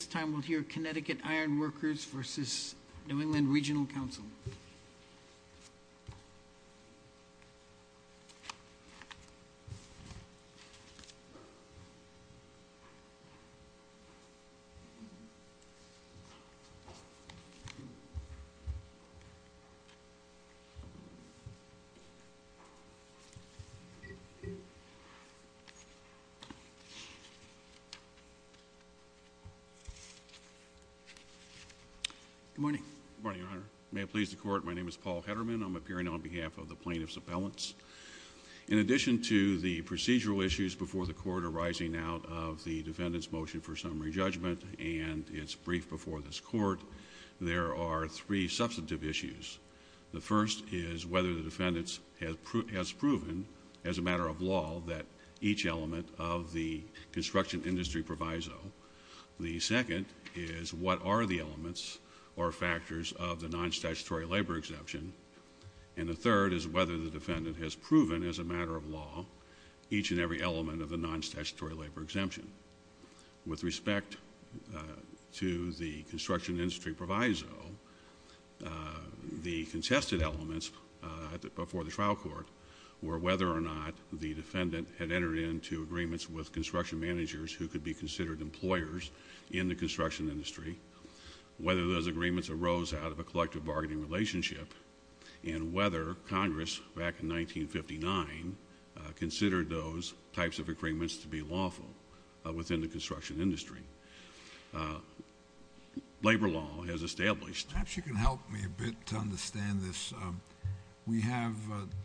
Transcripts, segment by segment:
This time we'll hear Connecticut Ironworkers versus New England Regional Council. Good morning, Your Honor. May it please the court, my name is Paul Hederman. I'm appearing on behalf of the plaintiff's appellants. In addition to the procedural issues before the court arising out of the defendant's motion for summary judgment and its brief before this court, there are three substantive issues. The first is whether the defendant has proven, as a matter of law, that each element of the construction industry proviso. The second is what are the elements or factors of the non-statutory labor exemption. And the third is whether the defendant has proven, as a matter of law, each and every element of the non-statutory labor exemption. With respect to the construction industry proviso, the contested elements before the trial court were whether or not the defendant had entered into agreements with construction managers who could be considered employers in the construction industry, whether those agreements arose out of a collective bargaining relationship, and whether Congress, back in 1959, considered those types of agreements to be lawful within the construction industry. Labor law has established... Perhaps you can help me a bit to understand this. We have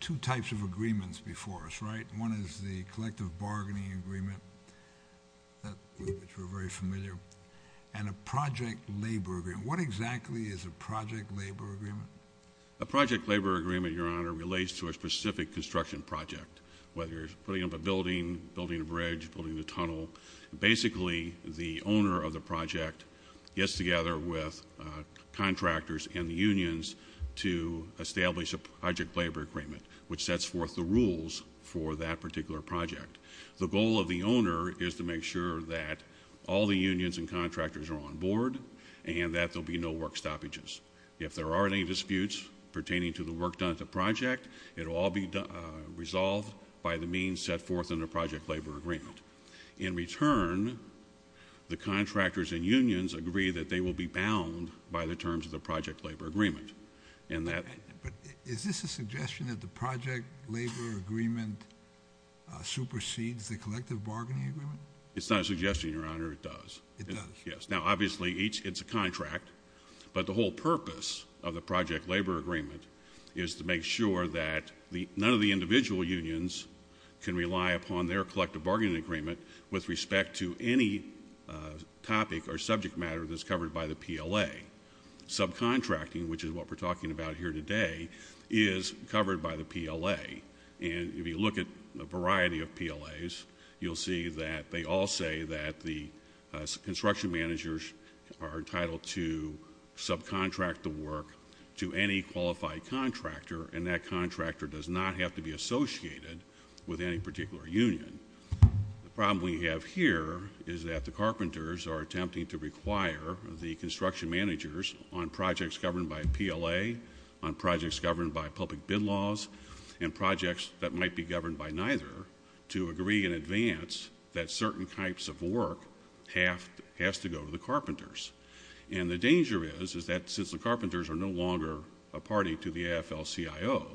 two types of agreements before us, right? One is the collective bargaining agreement, which we're very familiar with, and a project labor agreement. What exactly is a project labor agreement? A project labor agreement, Your Honor, relates to a specific construction project, whether you're putting up a building, building a bridge, building a tunnel. Basically, the owner of the project gets together with contractors and the unions to establish a project labor agreement, which sets forth the rules for that particular project. The goal of the owner is to make sure that all the unions and contractors are on board and that there will be no work stoppages. If there are any disputes pertaining to the work done at the project, it will all be resolved by the means set forth in the project labor agreement. In return, the contractors and unions agree that they will be bound by the terms of the project labor agreement. But is this a suggestion that the project labor agreement supersedes the collective bargaining agreement? It's not a suggestion, Your Honor. It does. It does? Yes. Now, obviously, it's a contract, but the whole purpose of the project labor agreement is to make sure that none of the individual unions can rely upon their collective bargaining agreement with respect to any topic or subject matter that's covered by the PLA. Subcontracting, which is what we're talking about here today, is covered by the PLA. And if you look at a variety of PLAs, you'll see that they all say that the construction managers are entitled to subcontract the work to any qualified contractor, and that contractor does not have to be associated with any particular union. The problem we have here is that the carpenters are attempting to require the construction managers on projects governed by PLA, on projects governed by public bid laws, and projects that might be governed by neither to agree in advance that certain types of work has to go to the carpenters. And the danger is, is that since the carpenters are no longer a party to the AFL-CIO,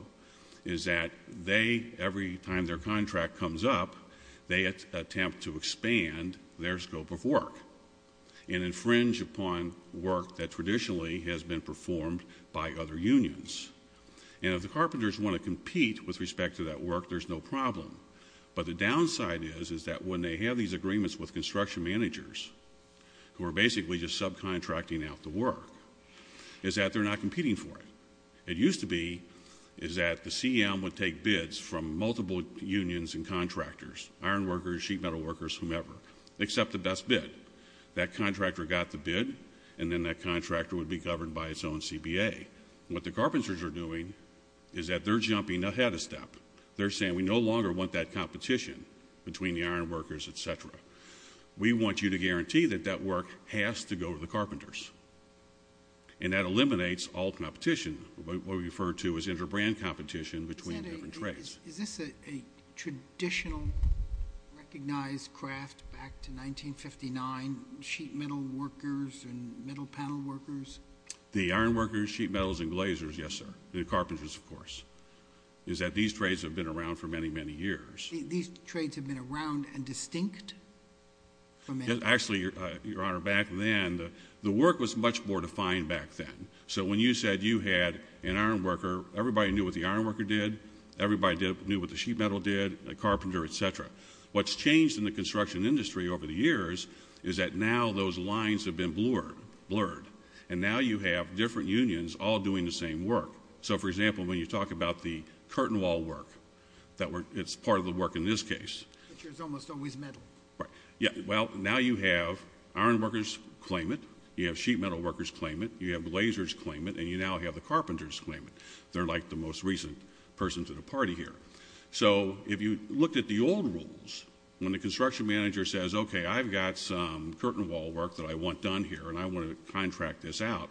is that they, every time their contract comes up, they attempt to expand their scope of work and infringe upon work that traditionally has been performed by other unions. And if the carpenters want to compete with respect to that work, there's no problem. But the downside is, is that when they have these agreements with construction managers, who are basically just subcontracting out the work, is that they're not competing for it. It used to be, is that the CEM would take bids from multiple unions and contractors, iron workers, sheet metal workers, whomever, accept the best bid. That contractor got the bid, and then that contractor would be governed by its own CBA. What the carpenters are doing is that they're jumping ahead a step. They're saying, we no longer want that competition between the iron workers, et cetera. We want you to guarantee that that work has to go to the carpenters. And that eliminates all competition, what we refer to as inter-brand competition between different trades. Senator, is this a traditional recognized craft back to 1959, sheet metal workers and metal panel workers? The iron workers, sheet metals, and glazers, yes, sir, and the carpenters, of course. Is that these trades have been around for many, many years. These trades have been around and distinct? Actually, Your Honor, back then, the work was much more defined back then. So when you said you had an iron worker, everybody knew what the iron worker did. Everybody knew what the sheet metal did, a carpenter, et cetera. What's changed in the construction industry over the years is that now those lines have been blurred. And now you have different unions all doing the same work. So, for example, when you talk about the curtain wall work, it's part of the work in this case. Which is almost always metal. Right. Well, now you have iron workers claim it, you have sheet metal workers claim it, you have glazers claim it, and you now have the carpenters claim it. They're like the most recent person to the party here. So if you looked at the old rules, when the construction manager says, okay, I've got some curtain wall work that I want done here, and I want to contract this out,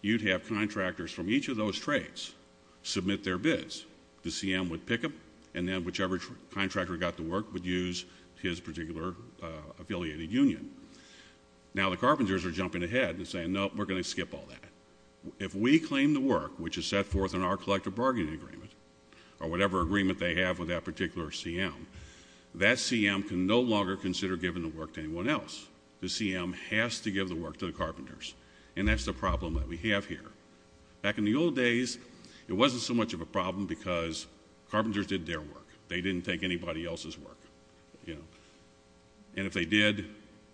you'd have contractors from each of those trades submit their bids. The CM would pick them, and then whichever contractor got the work would use his particular affiliated union. Now the carpenters are jumping ahead and saying, nope, we're going to skip all that. If we claim the work, which is set forth in our collective bargaining agreement, or whatever agreement they have with that particular CM, that CM can no longer consider giving the work to anyone else. The CM has to give the work to the carpenters. And that's the problem that we have here. Back in the old days, it wasn't so much of a problem because carpenters did their work. They didn't take anybody else's work. And if they did,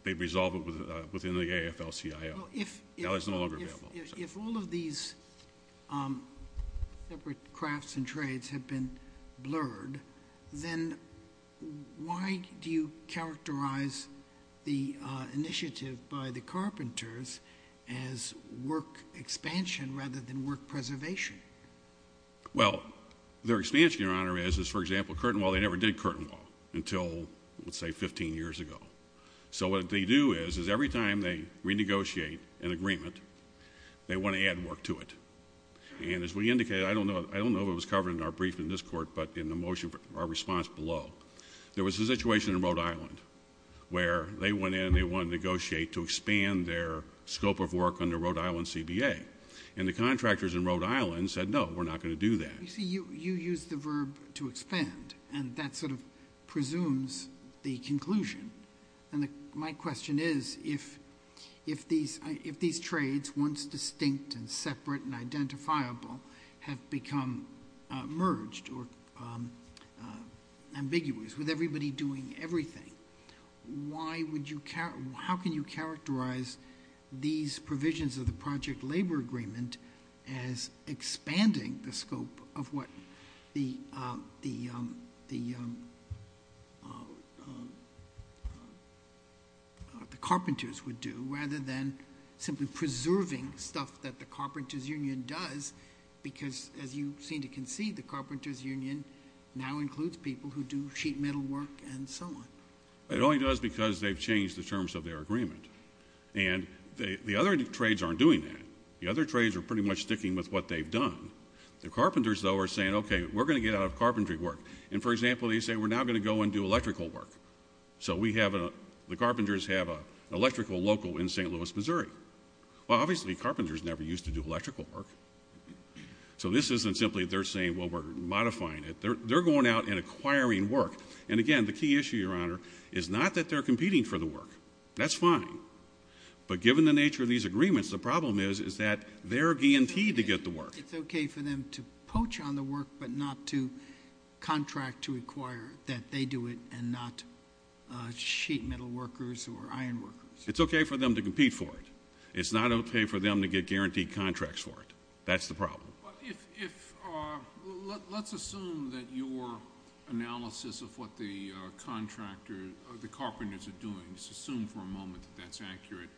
they'd resolve it within the AFL-CIO. Now it's no longer available. If all of these separate crafts and trades have been blurred, then why do you characterize the initiative by the carpenters as work expansion rather than work preservation? Well, their expansion, Your Honor, is, for example, curtain wall. They never did curtain wall until, let's say, 15 years ago. So what they do is, is every time they renegotiate an agreement, they want to add work to it. And as we indicated, I don't know if it was covered in our briefing in this court, but in the motion, our response below, there was a situation in Rhode Island where they went in and they wanted to negotiate to expand their scope of work under Rhode Island CBA. And the contractors in Rhode Island said, no, we're not going to do that. You see, you use the verb to expand, and that sort of presumes the conclusion. And my question is, if these trades, once distinct and separate and identifiable, have become merged or ambiguous with everybody doing everything, how can you characterize these provisions of the project labor agreement as expanding the scope of what the carpenters would do, rather than simply preserving stuff that the carpenters' union does? Because, as you seem to concede, the carpenters' union now includes people who do sheet metal work and so on. It only does because they've changed the terms of their agreement. And the other trades aren't doing that. The other trades are pretty much sticking with what they've done. The carpenters, though, are saying, okay, we're going to get out of carpentry work. And, for example, they say, we're now going to go and do electrical work. So the carpenters have an electrical local in St. Louis, Missouri. Well, obviously carpenters never used to do electrical work. So this isn't simply they're saying, well, we're modifying it. They're going out and acquiring work. And, again, the key issue, Your Honor, is not that they're competing for the work. That's fine. But given the nature of these agreements, the problem is that they're guillotined to get the work. It's okay for them to poach on the work but not to contract to acquire, that they do it and not sheet metal workers or iron workers. It's okay for them to compete for it. It's not okay for them to get guaranteed contracts for it. That's the problem. Let's assume that your analysis of what the carpenters are doing, let's assume for a moment that that's accurate.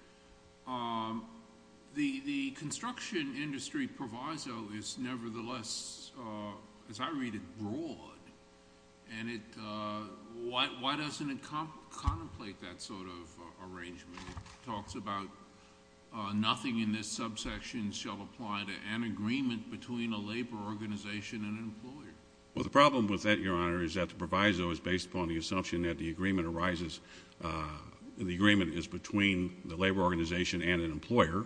The construction industry proviso is nevertheless, as I read it, broad. And why doesn't it contemplate that sort of arrangement? It talks about nothing in this subsection shall apply to an agreement between a labor organization and an employer. Well, the problem with that, Your Honor, is that the proviso is based upon the assumption that the agreement arises, the agreement is between the labor organization and an employer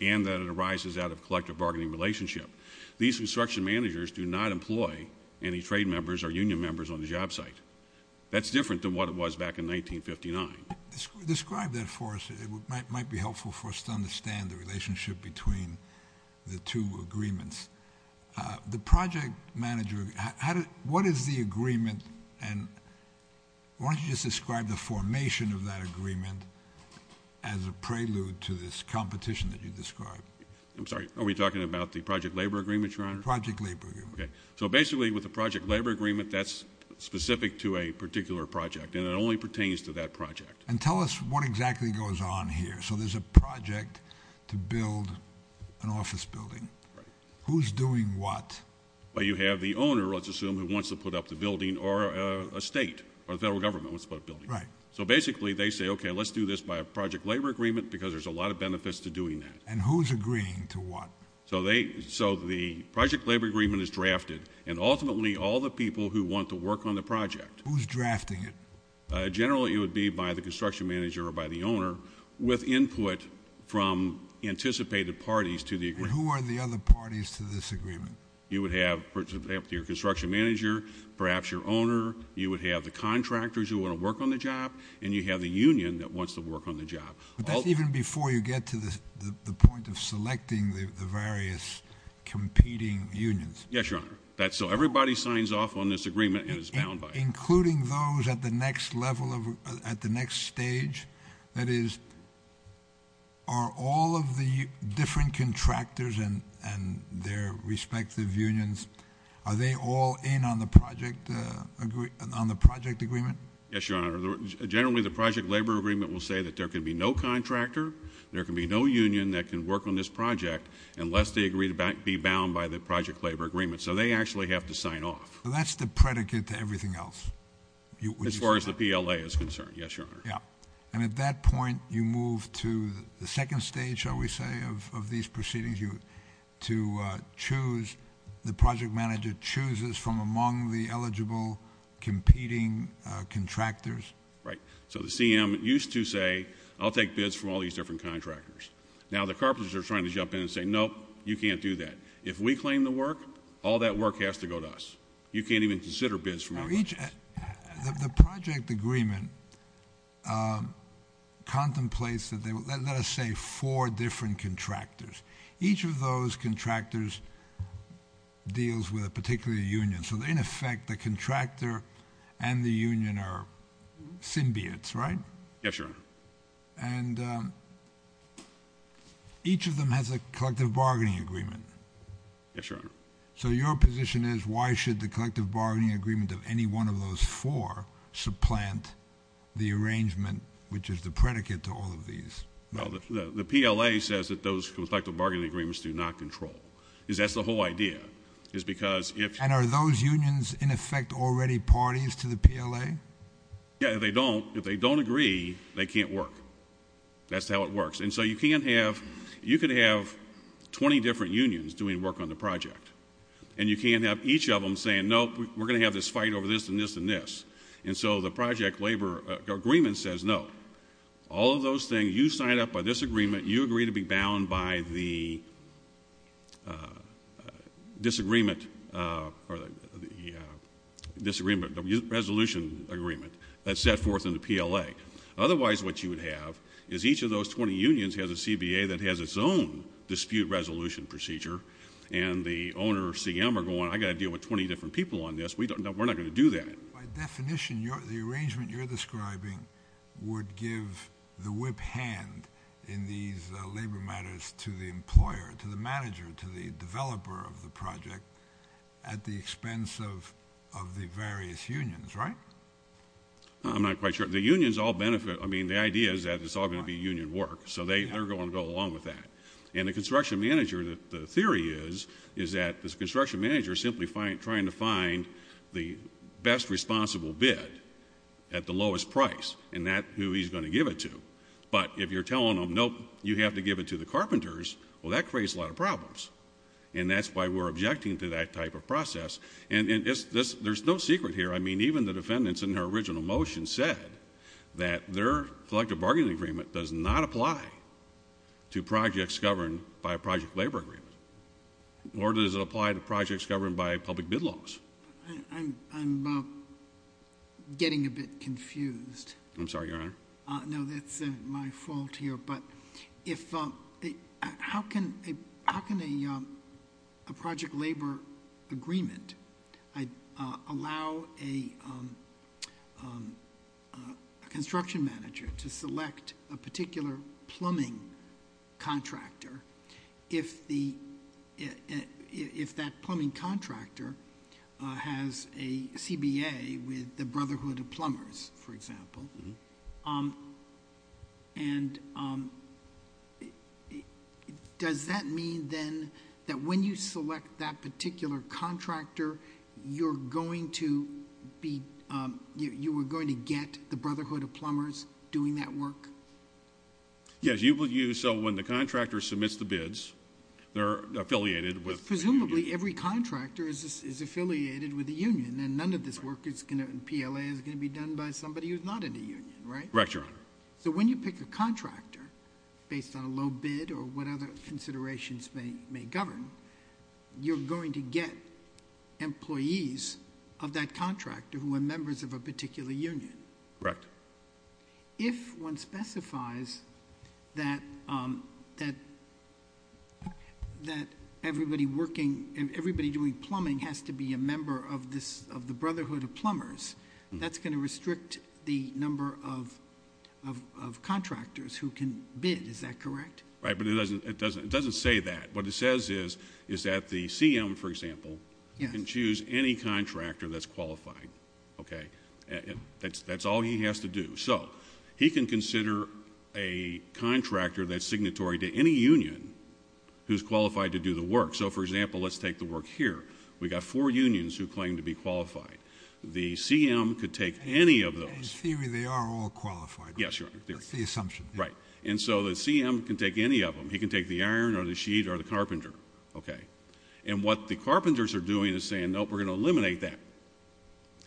and that it arises out of collective bargaining relationship. These construction managers do not employ any trade members or union members on the job site. That's different than what it was back in 1959. Describe that for us. It might be helpful for us to understand the relationship between the two agreements. The project manager, what is the agreement and why don't you just describe the formation of that agreement as a prelude to this competition that you described? I'm sorry, are we talking about the project labor agreement, Your Honor? Project labor agreement. So basically with the project labor agreement, that's specific to a particular project and it only pertains to that project. And tell us what exactly goes on here. So there's a project to build an office building. Right. Who's doing what? Well, you have the owner, let's assume, who wants to put up the building or a state or the federal government wants to put up a building. Right. So basically they say, okay, let's do this by a project labor agreement because there's a lot of benefits to doing that. And who's agreeing to what? So the project labor agreement is drafted and ultimately all the people who want to work on the project. Who's drafting it? Generally it would be by the construction manager or by the owner with input from anticipated parties to the agreement. And who are the other parties to this agreement? You would have your construction manager, perhaps your owner. You would have the contractors who want to work on the job and you have the union that wants to work on the job. But that's even before you get to the point of selecting the various competing unions. Yes, Your Honor. So everybody signs off on this agreement and is bound by it. Including those at the next level, at the next stage? That is, are all of the different contractors and their respective unions, are they all in on the project agreement? Yes, Your Honor. Generally the project labor agreement will say that there can be no contractor, there can be no union that can work on this project unless they agree to be bound by the project labor agreement. So they actually have to sign off. So that's the predicate to everything else? As far as the PLA is concerned, yes, Your Honor. Yeah. And at that point you move to the second stage, shall we say, of these proceedings. The project manager chooses from among the eligible competing contractors? Right. So the CM used to say, I'll take bids from all these different contractors. Now the carpenters are trying to jump in and say, nope, you can't do that. If we claim the work, all that work has to go to us. You can't even consider bids from our contractors. The project agreement contemplates, let us say, four different contractors. Each of those contractors deals with a particular union. So in effect the contractor and the union are symbiotes, right? Yes, Your Honor. And each of them has a collective bargaining agreement. Yes, Your Honor. So your position is, why should the collective bargaining agreement of any one of those four supplant the arrangement, which is the predicate to all of these? The PLA says that those collective bargaining agreements do not control. That's the whole idea. And are those unions, in effect, already parties to the PLA? Yeah, if they don't agree, they can't work. That's how it works. And so you can have 20 different unions doing work on the project, and you can't have each of them saying, nope, we're going to have this fight over this and this and this. And so the project labor agreement says, no, all of those things, you sign up by this agreement, you agree to be bound by the disagreement, the resolution agreement that's set forth in the PLA. Otherwise what you would have is each of those 20 unions has a CBA that has its own dispute resolution procedure, and the owner or CM are going, I've got to deal with 20 different people on this. We're not going to do that. By definition, the arrangement you're describing would give the whip hand in these labor matters to the employer, to the manager, to the developer of the project at the expense of the various unions, right? I'm not quite sure. The unions all benefit. I mean, the idea is that it's all going to be union work, so they're going to go along with that. And the construction manager, the theory is, is that the construction manager is simply trying to find the best responsible bid at the lowest price, and that's who he's going to give it to. But if you're telling them, nope, you have to give it to the carpenters, well, that creates a lot of problems. And that's why we're objecting to that type of process. And there's no secret here. I mean, even the defendants in their original motion said that their collective bargaining agreement does not apply to projects governed by a project labor agreement, nor does it apply to projects governed by public bid laws. I'm getting a bit confused. I'm sorry, Your Honor. No, that's my fault here. But how can a project labor agreement allow a construction manager to select a particular plumbing contractor if that plumbing contractor has a CBA with the Brotherhood of Plumbers, for example? Mm-hmm. And does that mean then that when you select that particular contractor, you were going to get the Brotherhood of Plumbers doing that work? Yes. So when the contractor submits the bids, they're affiliated with the union. Presumably every contractor is affiliated with the union, and PLA is going to be done by somebody who's not in the union, right? Correct, Your Honor. So when you pick a contractor based on a low bid or what other considerations may govern, you're going to get employees of that contractor who are members of a particular union. Correct. If one specifies that everybody doing plumbing has to be a member of the Brotherhood of Plumbers, that's going to restrict the number of contractors who can bid, is that correct? Right, but it doesn't say that. What it says is that the CM, for example, can choose any contractor that's qualified, okay? That's all he has to do. So he can consider a contractor that's signatory to any union who's qualified to do the work. So, for example, let's take the work here. We've got four unions who claim to be qualified. The CM could take any of those. In theory, they are all qualified. Yes, Your Honor. That's the assumption. Right. And so the CM can take any of them. He can take the iron or the sheet or the carpenter, okay? And what the carpenters are doing is saying, nope, we're going to eliminate that.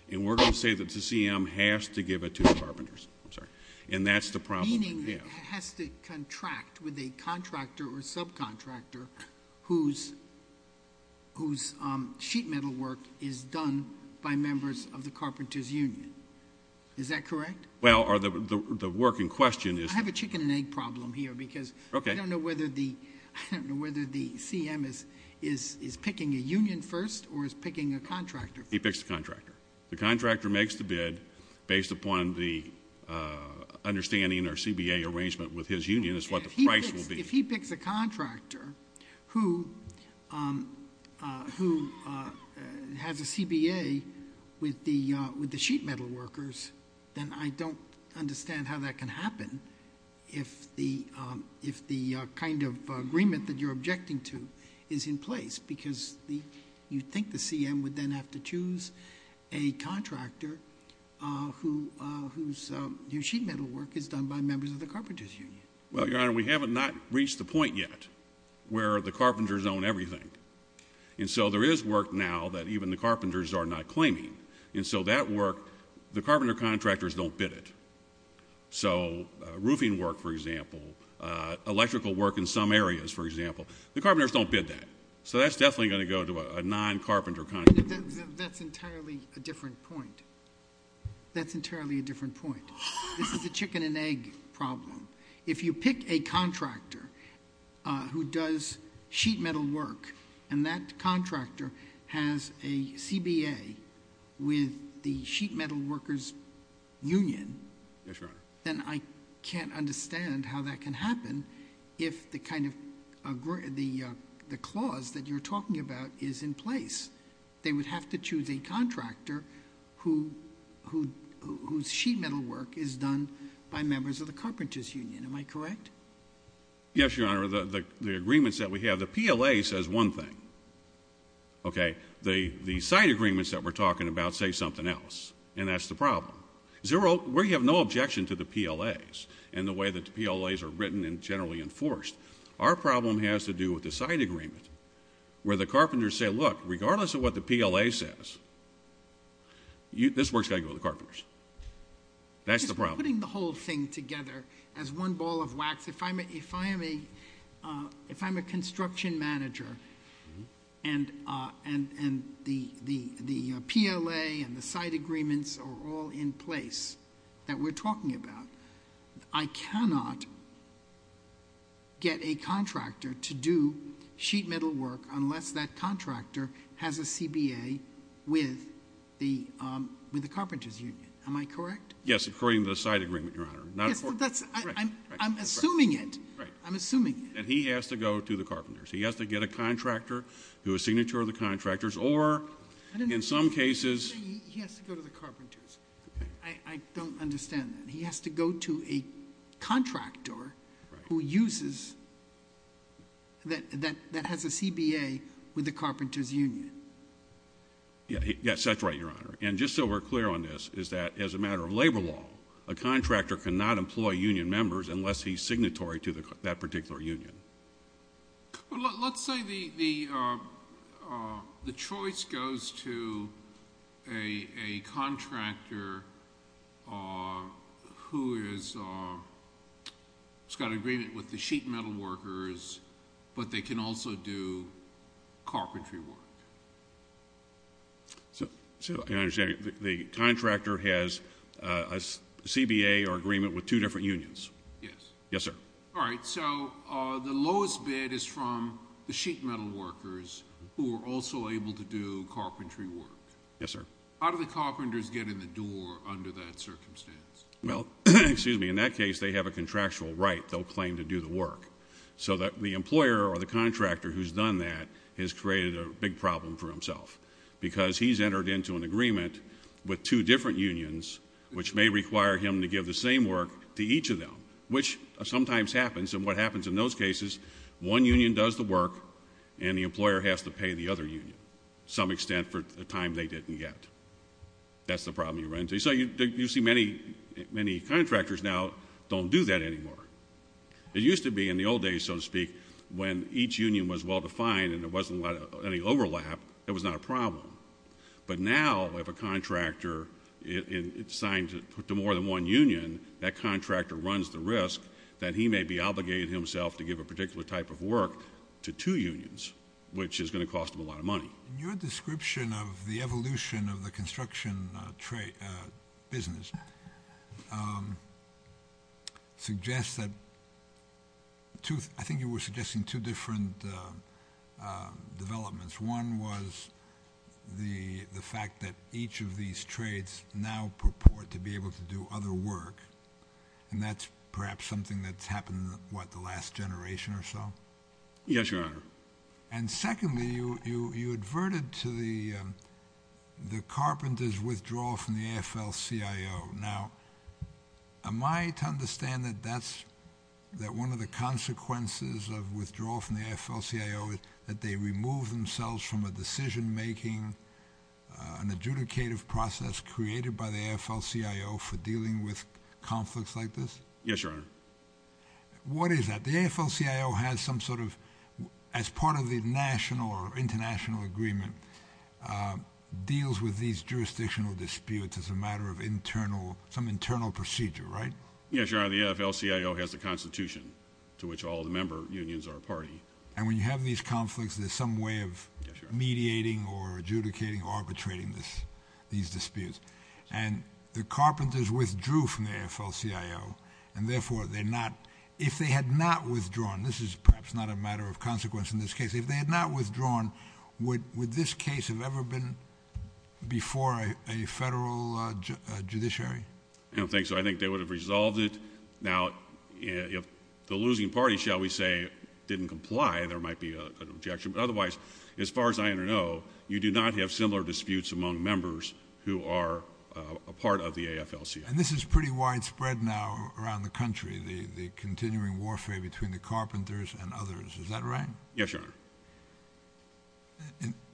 And we're going to say that the CM has to give it to the carpenters. I'm sorry. And that's the problem. Meaning it has to contract with a contractor or subcontractor whose sheet metal work is done by members of the carpenters' union. Is that correct? Well, the work in question is – I have a chicken and egg problem here because I don't know whether the CM is picking a union first or is picking a contractor first. He picks the contractor. The contractor makes the bid based upon the understanding or CBA arrangement with his union is what the price will be. If he picks a contractor who has a CBA with the sheet metal workers, then I don't understand how that can happen if the kind of agreement that you're objecting to is in place because you think the CM would then have to choose a contractor whose sheet metal work is done by members of the carpenters' union. Well, Your Honor, we have not reached the point yet where the carpenters own everything. And so there is work now that even the carpenters are not claiming. And so that work, the carpenter contractors don't bid it. So roofing work, for example, electrical work in some areas, for example, the carpenters don't bid that. So that's definitely going to go to a non-carpenter contractor. That's entirely a different point. That's entirely a different point. This is a chicken and egg problem. If you pick a contractor who does sheet metal work and that contractor has a CBA with the sheet metal workers' union, then I can't understand how that can happen if the kind of clause that you're talking about is in place. They would have to choose a contractor whose sheet metal work is done by members of the carpenters' union. Am I correct? Yes, Your Honor. The agreements that we have, the PLA says one thing, okay? The side agreements that we're talking about say something else, and that's the problem. We have no objection to the PLAs and the way that the PLAs are written and generally enforced. Our problem has to do with the side agreement where the carpenters say, look, regardless of what the PLA says, this work's got to go to the carpenters. That's the problem. I'm putting the whole thing together as one ball of wax. If I'm a construction manager and the PLA and the side agreements are all in place that we're talking about, I cannot get a contractor to do sheet metal work unless that contractor has a CBA with the carpenters' union. Am I correct? Yes, according to the side agreement, Your Honor. I'm assuming it. Right. I'm assuming it. That he has to go to the carpenters. He has to get a contractor who is a signature of the contractors or in some cases. He has to go to the carpenters. I don't understand that. He has to go to a contractor who uses, that has a CBA with the carpenters' union. Yes, that's right, Your Honor. And just so we're clear on this is that as a matter of labor law, a contractor cannot employ union members unless he's signatory to that particular union. Let's say the choice goes to a contractor who has got an agreement with the sheet metal workers, but they can also do carpentry work. So, Your Honor, the contractor has a CBA or agreement with two different unions. Yes. Yes, sir. All right, so the lowest bid is from the sheet metal workers who are also able to do carpentry work. Yes, sir. How do the carpenters get in the door under that circumstance? Well, excuse me, in that case, they have a contractual right. They'll claim to do the work. So the employer or the contractor who's done that has created a big problem for himself because he's entered into an agreement with two different unions, which may require him to give the same work to each of them, which sometimes happens. And what happens in those cases, one union does the work, and the employer has to pay the other union to some extent for the time they didn't get. That's the problem you run into. So you see many contractors now don't do that anymore. It used to be in the old days, so to speak, when each union was well-defined and there wasn't any overlap, it was not a problem. But now if a contractor signs to more than one union, that contractor runs the risk that he may be obligated himself to give a particular type of work to two unions, which is going to cost him a lot of money. In your description of the evolution of the construction business, I think you were suggesting two different developments. One was the fact that each of these trades now purport to be able to do other work, and that's perhaps something that's happened, what, the last generation or so? Yes, Your Honor. And secondly, you adverted to the carpenters' withdrawal from the AFL-CIO. Now, am I to understand that that's one of the consequences of withdrawal from the AFL-CIO, that they remove themselves from a decision-making, an adjudicative process created by the AFL-CIO for dealing with conflicts like this? Yes, Your Honor. What is that? The AFL-CIO has some sort of, as part of the national or international agreement, deals with these jurisdictional disputes as a matter of internal, some internal procedure, right? Yes, Your Honor. The AFL-CIO has the Constitution, to which all the member unions are a party. And when you have these conflicts, there's some way of mediating or adjudicating, arbitrating these disputes. And the carpenters withdrew from the AFL-CIO, and therefore they're not, if they had not withdrawn, this is perhaps not a matter of consequence in this case, if they had not withdrawn, would this case have ever been before a federal judiciary? I don't think so. I think they would have resolved it. Now, if the losing party, shall we say, didn't comply, there might be an objection. But otherwise, as far as I know, you do not have similar disputes among members who are a part of the AFL-CIO. And this is pretty widespread now around the country, the continuing warfare between the carpenters and others. Is that right? Yes, Your Honor.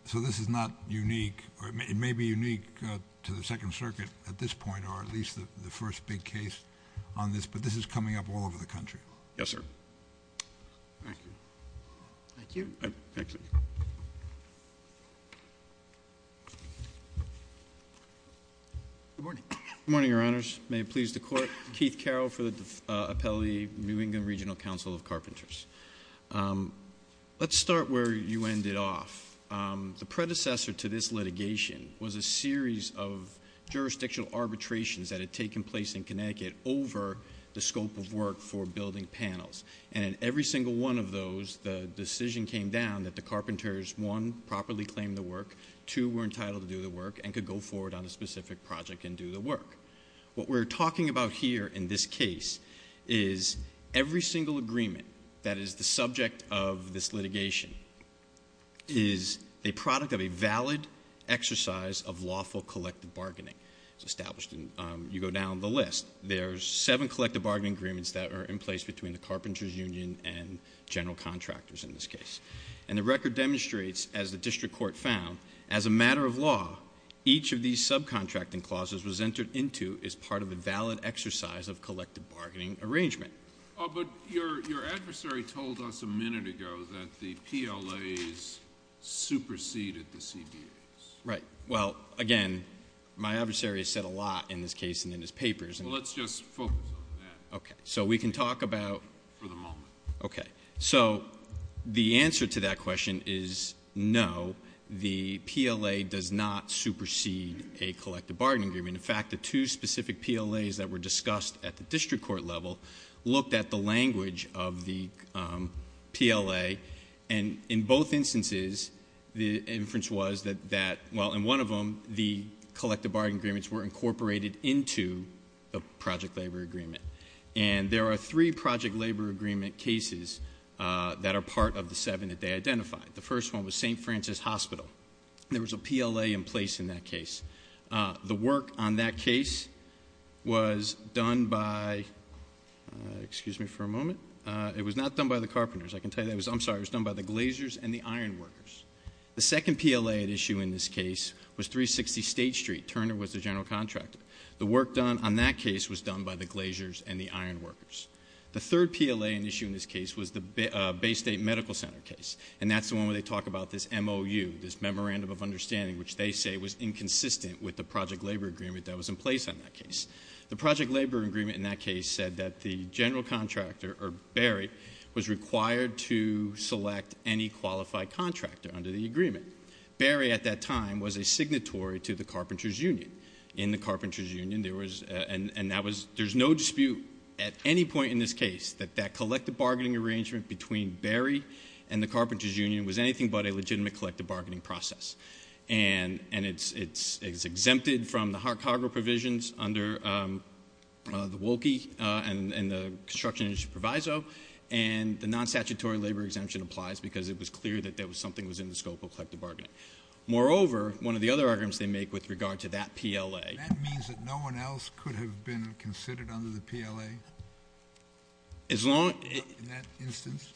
So this is not unique, or it may be unique to the Second Circuit at this point, or at least the first big case on this, but this is coming up all over the country. Yes, sir. Thank you. Thank you. Good morning. Good morning, Your Honors. May it please the Court. Keith Carroll for the appellee, New England Regional Council of Carpenters. Let's start where you ended off. The predecessor to this litigation was a series of jurisdictional arbitrations that had taken place in Connecticut over the scope of work for building panels. And in every single one of those, the decision came down that the carpenters, one, properly claimed the work, two were entitled to do the work and could go forward on a specific project and do the work. What we're talking about here in this case is every single agreement that is the subject of this litigation is a product of a valid exercise of lawful collective bargaining. It's established, and you go down the list. There are seven collective bargaining agreements that are in place between the carpenters union and general contractors in this case. And the record demonstrates, as the district court found, as a matter of law, each of these subcontracting clauses was entered into as part of a valid exercise of collective bargaining arrangement. But your adversary told us a minute ago that the PLAs superseded the CBAs. Right. Well, again, my adversary has said a lot in this case and in his papers. Well, let's just focus on that. Okay. So we can talk about? For the moment. Okay. So the answer to that question is no, the PLA does not supersede a collective bargaining agreement. In fact, the two specific PLAs that were discussed at the district court level looked at the language of the PLA. And in both instances, the inference was that, well, in one of them, the collective bargaining agreements were incorporated into the project labor agreement. And there are three project labor agreement cases that are part of the seven that they identified. The first one was St. Francis Hospital. There was a PLA in place in that case. The work on that case was done by, excuse me for a moment, it was not done by the carpenters. I can tell you, I'm sorry, it was done by the glaziers and the iron workers. The second PLA at issue in this case was 360 State Street. Turner was the general contractor. The work done on that case was done by the glaziers and the iron workers. The third PLA at issue in this case was the Bay State Medical Center case, and that's the one where they talk about this MOU, this memorandum of understanding, which they say was inconsistent with the project labor agreement that was in place on that case. The project labor agreement in that case said that the general contractor, or Barry, was required to select any qualified contractor under the agreement. Barry, at that time, was a signatory to the carpenters' union. In the carpenters' union, there was, and that was, there's no dispute at any point in this case that that collective bargaining arrangement between Barry and the carpenters' union was anything but a legitimate collective bargaining process. And it's exempted from the cargo provisions under the WOLKI and the Construction Industry Proviso, and the non-statutory labor exemption applies because it was clear that there was something that was in the scope of collective bargaining. Moreover, one of the other arguments they make with regard to that PLA. That means that no one else could have been considered under the PLA in that instance?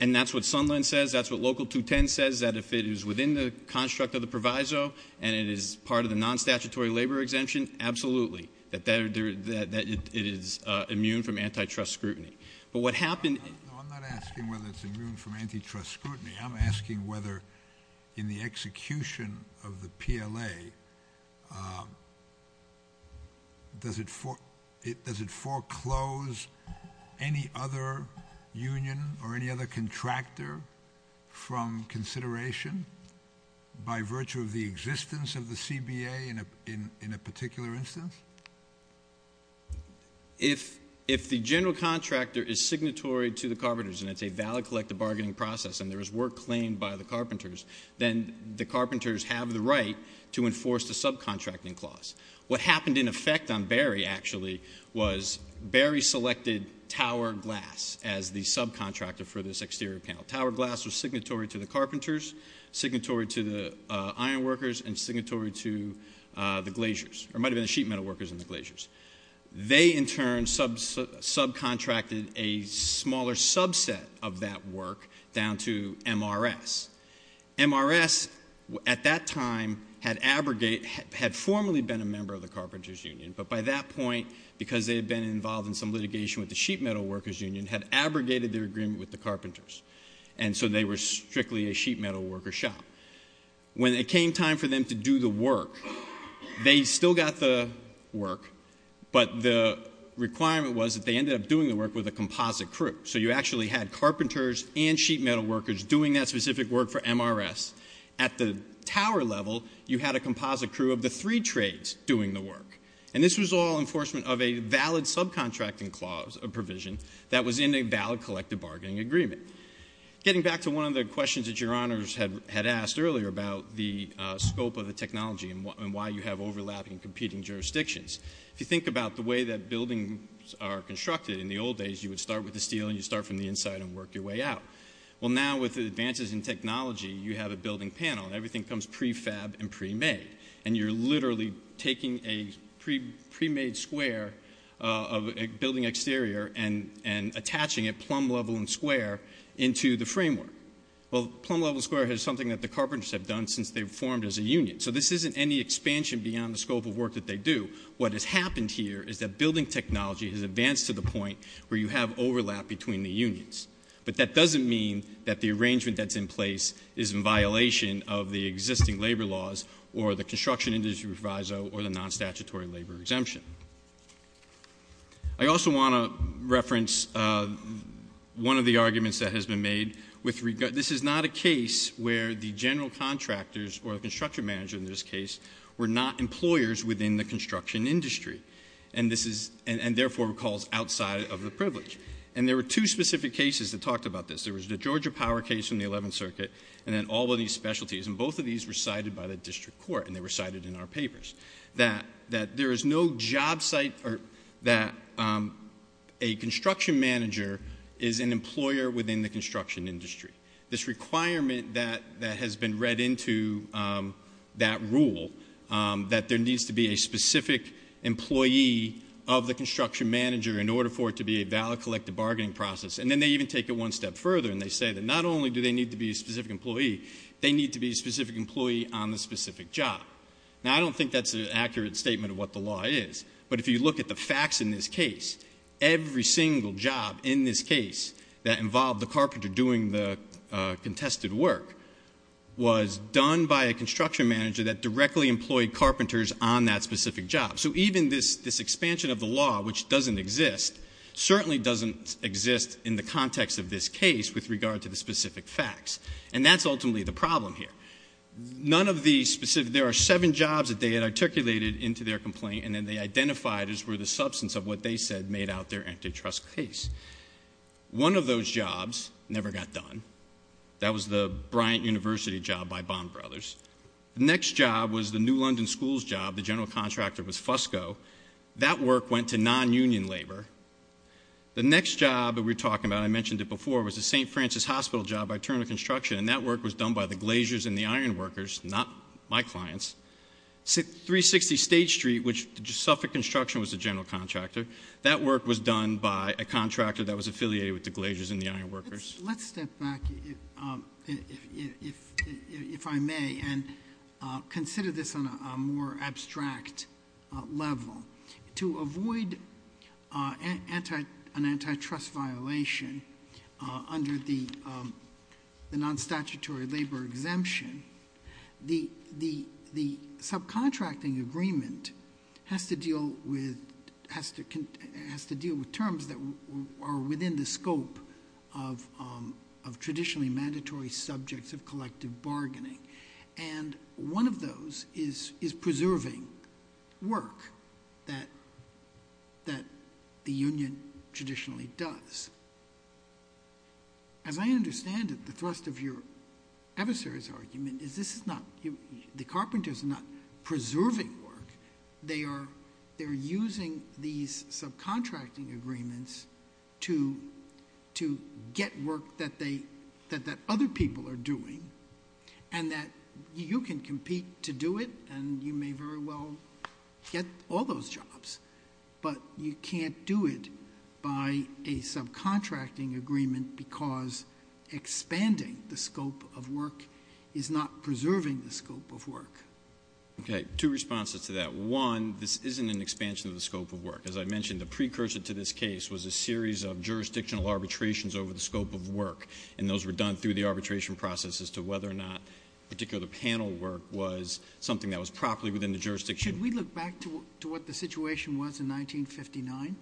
And that's what Sunland says. That's what Local 210 says. That if it is within the construct of the proviso and it is part of the non-statutory labor exemption, absolutely. That it is immune from antitrust scrutiny. But what happened. No, I'm not asking whether it's immune from antitrust scrutiny. I'm asking whether in the execution of the PLA, does it foreclose any other union or any other contractor from consideration by virtue of the existence of the CBA in a particular instance? If the general contractor is signatory to the carpenters and it's a valid collective bargaining process and there is work claimed by the carpenters, then the carpenters have the right to enforce the subcontracting clause. What happened in effect on Berry actually was Berry selected Tower Glass as the subcontractor for this exterior panel. Tower Glass was signatory to the carpenters, signatory to the iron workers, and signatory to the glaciers. Or it might have been the sheet metal workers and the glaciers. They in turn subcontracted a smaller subset of that work down to MRS. MRS at that time had formally been a member of the carpenters union. But by that point, because they had been involved in some litigation with the sheet metal workers union, had abrogated their agreement with the carpenters. And so they were strictly a sheet metal worker shop. When it came time for them to do the work, they still got the work, but the requirement was that they ended up doing the work with a composite crew. So you actually had carpenters and sheet metal workers doing that specific work for MRS. At the Tower level, you had a composite crew of the three trades doing the work. And this was all enforcement of a valid subcontracting clause, a provision, that was in a valid collective bargaining agreement. Getting back to one of the questions that your honors had asked earlier about the scope of the technology and why you have overlapping competing jurisdictions. If you think about the way that buildings are constructed in the old days, you would start with the steel and you'd start from the inside and work your way out. Well now with the advances in technology, you have a building panel and everything comes prefab and premade. And you're literally taking a premade square of a building exterior and attaching a plumb level and square into the framework. Well, plumb level square has something that the carpenters have done since they formed as a union. So this isn't any expansion beyond the scope of work that they do. What has happened here is that building technology has advanced to the point where you have overlap between the unions. But that doesn't mean that the arrangement that's in place is in violation of the existing labor laws, or the construction industry proviso, or the non-statutory labor exemption. I also want to reference one of the arguments that has been made. This is not a case where the general contractors, or the construction manager in this case, were not employers within the construction industry, and therefore recalls outside of the privilege. And there were two specific cases that talked about this. There was the Georgia Power case in the 11th Circuit, and then all of these specialties. And both of these were cited by the district court, and they were cited in our papers. That there is no job site, or that a construction manager is an employer within the construction industry. This requirement that has been read into that rule, that there needs to be a specific employee of the construction manager in order for it to be a valid collective bargaining process. And then they even take it one step further, and they say that not only do they need to be a specific employee, they need to be a specific employee on the specific job. Now, I don't think that's an accurate statement of what the law is, but if you look at the facts in this case, every single job in this case that involved the carpenter doing the contested work was done by a construction manager that directly employed carpenters on that specific job. So even this expansion of the law, which doesn't exist, certainly doesn't exist in the context of this case with regard to the specific facts. And that's ultimately the problem here. There are seven jobs that they had articulated into their complaint, and then they identified as were the substance of what they said made out their antitrust case. One of those jobs never got done. That was the Bryant University job by Bond Brothers. The next job was the New London Schools job. The general contractor was Fusco. That work went to non-union labor. The next job that we're talking about, I mentioned it before, was the St. Francis Hospital job by Turner Construction, and that work was done by the Glaciers and the Ironworkers, not my clients. 360 State Street, which Suffolk Construction was the general contractor, that work was done by a contractor that was affiliated with the Glaciers and the Ironworkers. Let's step back, if I may, and consider this on a more abstract level. To avoid an antitrust violation under the non-statutory labor exemption, the subcontracting agreement has to deal with terms that are within the scope of traditionally mandatory subjects of collective bargaining. One of those is preserving work that the union traditionally does. As I understand it, the thrust of your adversary's argument is the carpenters are not preserving work. They are using these subcontracting agreements to get work that other people are doing, and that you can compete to do it, and you may very well get all those jobs, but you can't do it by a subcontracting agreement because expanding the scope of work is not preserving the scope of work. Okay, two responses to that. One, this isn't an expansion of the scope of work. As I mentioned, the precursor to this case was a series of jurisdictional arbitrations over the scope of work, and those were done through the arbitration process as to whether or not particular panel work was something that was properly within the jurisdiction. Should we look back to what the situation was in 1959?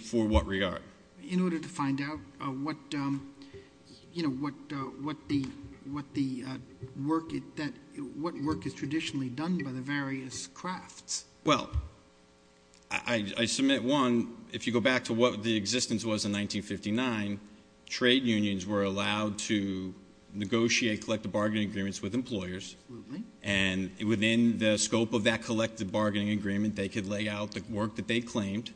For what regard? In order to find out what work is traditionally done by the various crafts. Well, I submit, one, if you go back to what the existence was in 1959, trade unions were allowed to negotiate collective bargaining agreements with employers, and within the scope of that collective bargaining agreement, they could lay out the work that they claimed.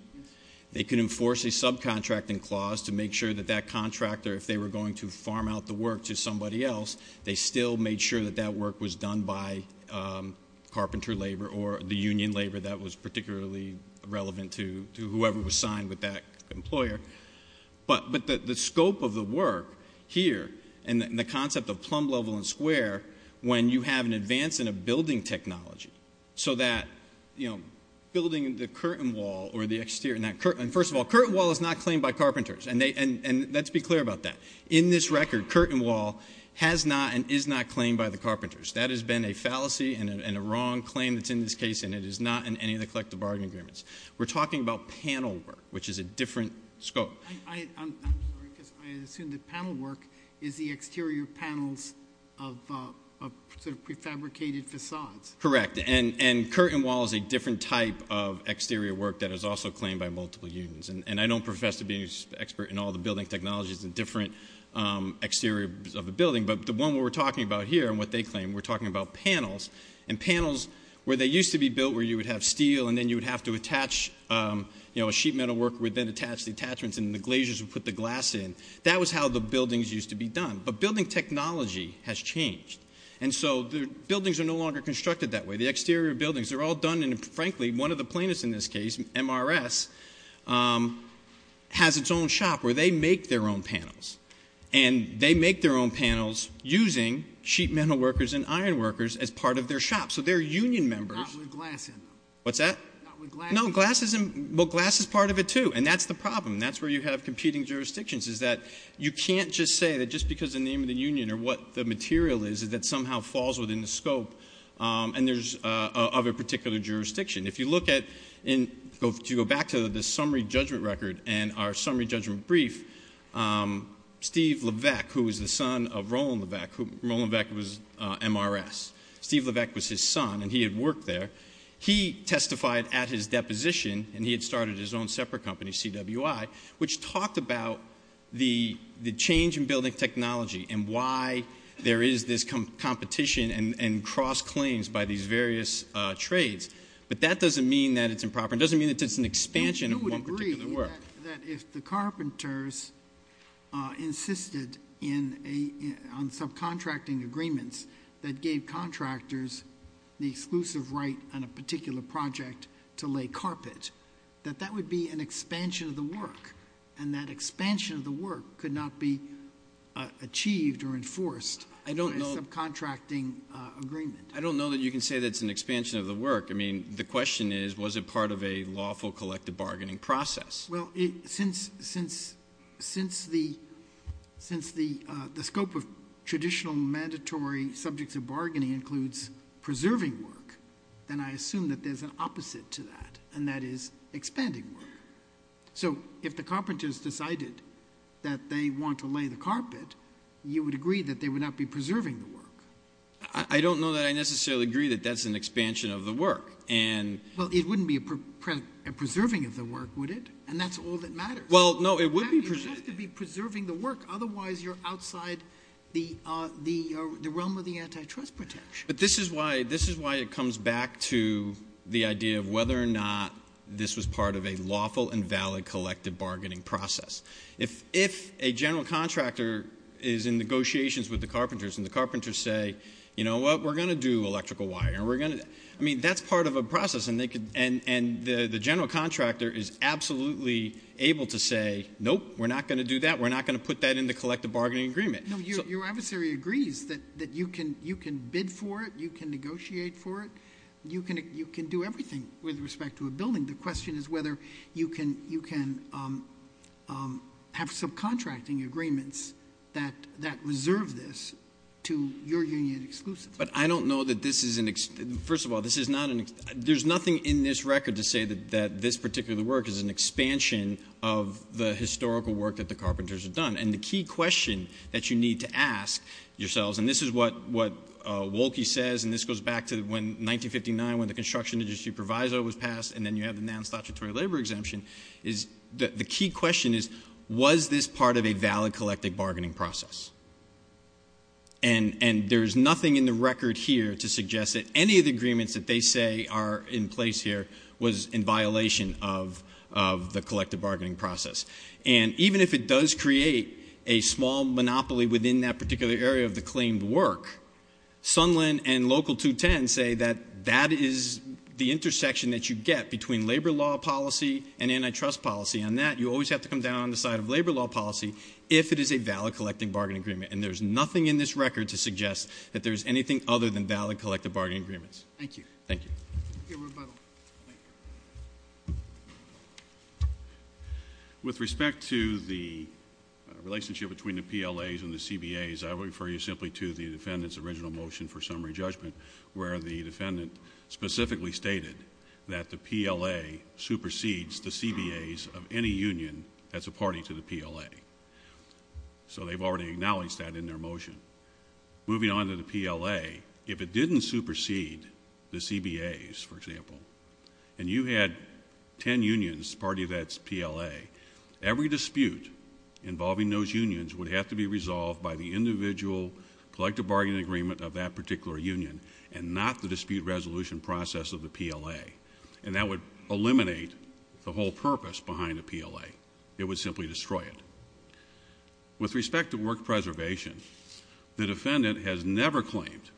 They could enforce a subcontracting clause to make sure that that contractor, if they were going to farm out the work to somebody else, they still made sure that that work was done by carpenter labor or the union labor that was particularly relevant to whoever was signed with that employer. But the scope of the work here and the concept of plumb level and square, when you have an advance in a building technology so that, you know, building the curtain wall or the exterior, and first of all, curtain wall is not claimed by carpenters, and let's be clear about that. In this record, curtain wall has not and is not claimed by the carpenters. That has been a fallacy and a wrong claim that's in this case, and it is not in any of the collective bargaining agreements. We're talking about panel work, which is a different scope. I'm sorry, because I assume that panel work is the exterior panels of sort of prefabricated facades. Correct, and curtain wall is a different type of exterior work that is also claimed by multiple unions, and I don't profess to be an expert in all the building technologies and different exteriors of a building, but the one we're talking about here and what they claim, we're talking about panels, and panels where they used to be built where you would have steel and then you would have to attach, you know, a sheet metal worker would then attach the attachments and the glaciers would put the glass in. That was how the buildings used to be done, but building technology has changed, and so the buildings are no longer constructed that way. The exterior buildings, they're all done, and frankly, one of the plaintiffs in this case, MRS, has its own shop where they make their own panels, and they make their own panels using sheet metal workers and iron workers as part of their shop, so they're union members. Not with glass in them. What's that? Not with glass in them. No, glass is part of it, too, and that's the problem. That's where you have competing jurisdictions is that you can't just say that just because of the name of the union or what the material is that somehow falls within the scope of a particular jurisdiction. If you look at, to go back to the summary judgment record and our summary judgment brief, Steve Levesque, who was the son of Roland Levesque, Roland Levesque was MRS. Steve Levesque was his son, and he had worked there. He testified at his deposition, and he had started his own separate company, CWI, which talked about the change in building technology and why there is this competition and cross-claims by these various trades, but that doesn't mean that it's improper. It doesn't mean that it's an expansion of one particular work. You would agree that if the carpenters insisted on subcontracting agreements that gave contractors the exclusive right on a particular project to lay carpet, that that would be an expansion of the work, and that expansion of the work could not be achieved or enforced by a subcontracting agreement. I don't know that you can say that's an expansion of the work. I mean, the question is, was it part of a lawful collective bargaining process? Well, since the scope of traditional mandatory subjects of bargaining includes preserving work, then I assume that there's an opposite to that, and that is expanding work. So if the carpenters decided that they want to lay the carpet, you would agree that they would not be preserving the work. I don't know that I necessarily agree that that's an expansion of the work. Well, it wouldn't be a preserving of the work, would it? And that's all that matters. Well, no, it would be preserving. You have to be preserving the work. Otherwise, you're outside the realm of the antitrust protection. But this is why it comes back to the idea of whether or not this was part of a lawful and valid collective bargaining process. If a general contractor is in negotiations with the carpenters, and the carpenters say, you know what, we're going to do electrical wiring. I mean, that's part of a process, and the general contractor is absolutely able to say, nope, we're not going to do that. We're not going to put that in the collective bargaining agreement. No, your adversary agrees that you can bid for it, you can negotiate for it, you can do everything with respect to a building. The question is whether you can have subcontracting agreements that reserve this to your union exclusives. But I don't know that this is an ex—first of all, this is not an— there's nothing in this record to say that this particular work is an expansion of the historical work that the carpenters have done. And the key question that you need to ask yourselves, and this is what Wohlke says, and this goes back to 1959 when the construction industry proviso was passed, and then you have the non-statutory labor exemption, is the key question is, was this part of a valid collective bargaining process? And there's nothing in the record here to suggest that any of the agreements that they say are in place here was in violation of the collective bargaining process. And even if it does create a small monopoly within that particular area of the claimed work, Sunland and Local 210 say that that is the intersection that you get between labor law policy and antitrust policy, and that you always have to come down on the side of labor law policy if it is a valid collective bargaining agreement. And there's nothing in this record to suggest that there's anything other than valid collective bargaining agreements. Thank you. Thank you. Your rebuttal. With respect to the relationship between the PLAs and the CBAs, I would refer you simply to the defendant's original motion for summary judgment where the defendant specifically stated that the PLA supersedes the CBAs of any union that's a party to the PLA. So they've already acknowledged that in their motion. Moving on to the PLA, if it didn't supersede the CBAs, for example, and you had ten unions party to that PLA, every dispute involving those unions would have to be resolved by the individual collective bargaining agreement of that particular union and not the dispute resolution process of the PLA. And that would eliminate the whole purpose behind a PLA. It would simply destroy it. With respect to work preservation, the defendant has never claimed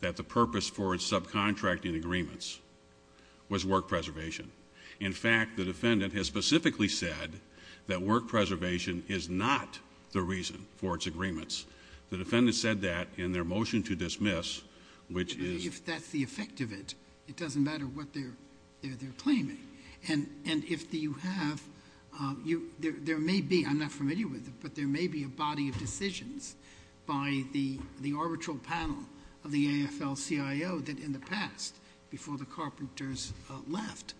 that the purpose for its subcontracting agreements was work preservation. In fact, the defendant has specifically said that work preservation is not the reason for its agreements. The defendant said that in their motion to dismiss, which is the effect of it. It doesn't matter what they're claiming. And if you have, there may be, I'm not familiar with it, but there may be a body of decisions by the arbitral panel of the AFL-CIO that in the past, before the carpenters left,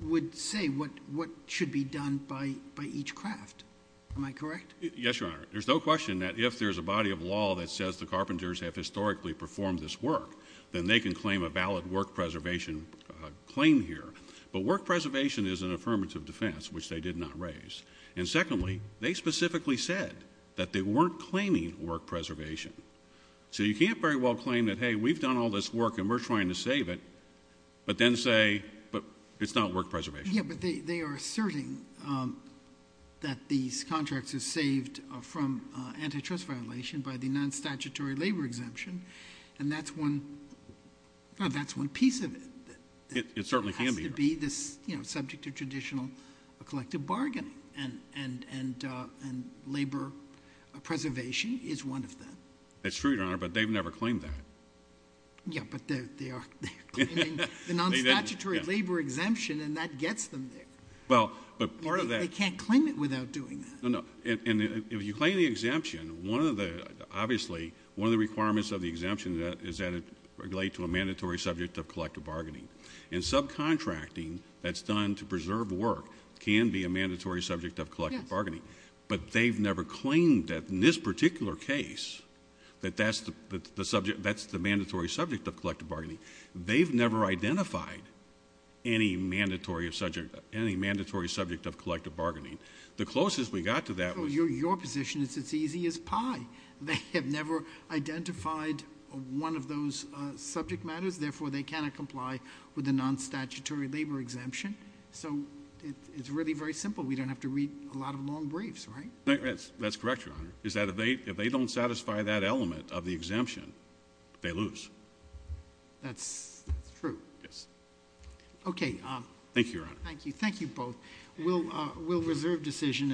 would say what should be done by each craft. Am I correct? Yes, Your Honor. There's no question that if there's a body of law that says the carpenters have historically performed this work, then they can claim a valid work preservation claim here. But work preservation is an affirmative defense, which they did not raise. And secondly, they specifically said that they weren't claiming work preservation. So you can't very well claim that, hey, we've done all this work and we're trying to save it, but then say it's not work preservation. Yeah, but they are asserting that these contracts are saved from antitrust violation by the non-statutory labor exemption, and that's one piece of it. It certainly can be. It has to be subject to traditional collective bargaining, and labor preservation is one of them. That's true, Your Honor, but they've never claimed that. Yeah, but they are claiming the non-statutory labor exemption, and that gets them there. They can't claim it without doing that. No, no, and if you claim the exemption, obviously one of the requirements of the exemption is that it relate to a mandatory subject of collective bargaining. And subcontracting that's done to preserve work can be a mandatory subject of collective bargaining, but they've never claimed that in this particular case that that's the mandatory subject of collective bargaining. They've never identified any mandatory subject of collective bargaining. The closest we got to that was... They have never identified one of those subject matters. Therefore, they cannot comply with the non-statutory labor exemption. So it's really very simple. We don't have to read a lot of long briefs, right? That's correct, Your Honor, is that if they don't satisfy that element of the exemption, they lose. That's true. Yes. Okay. Thank you, Your Honor. Thank you. Thank you both. We'll reserve decision.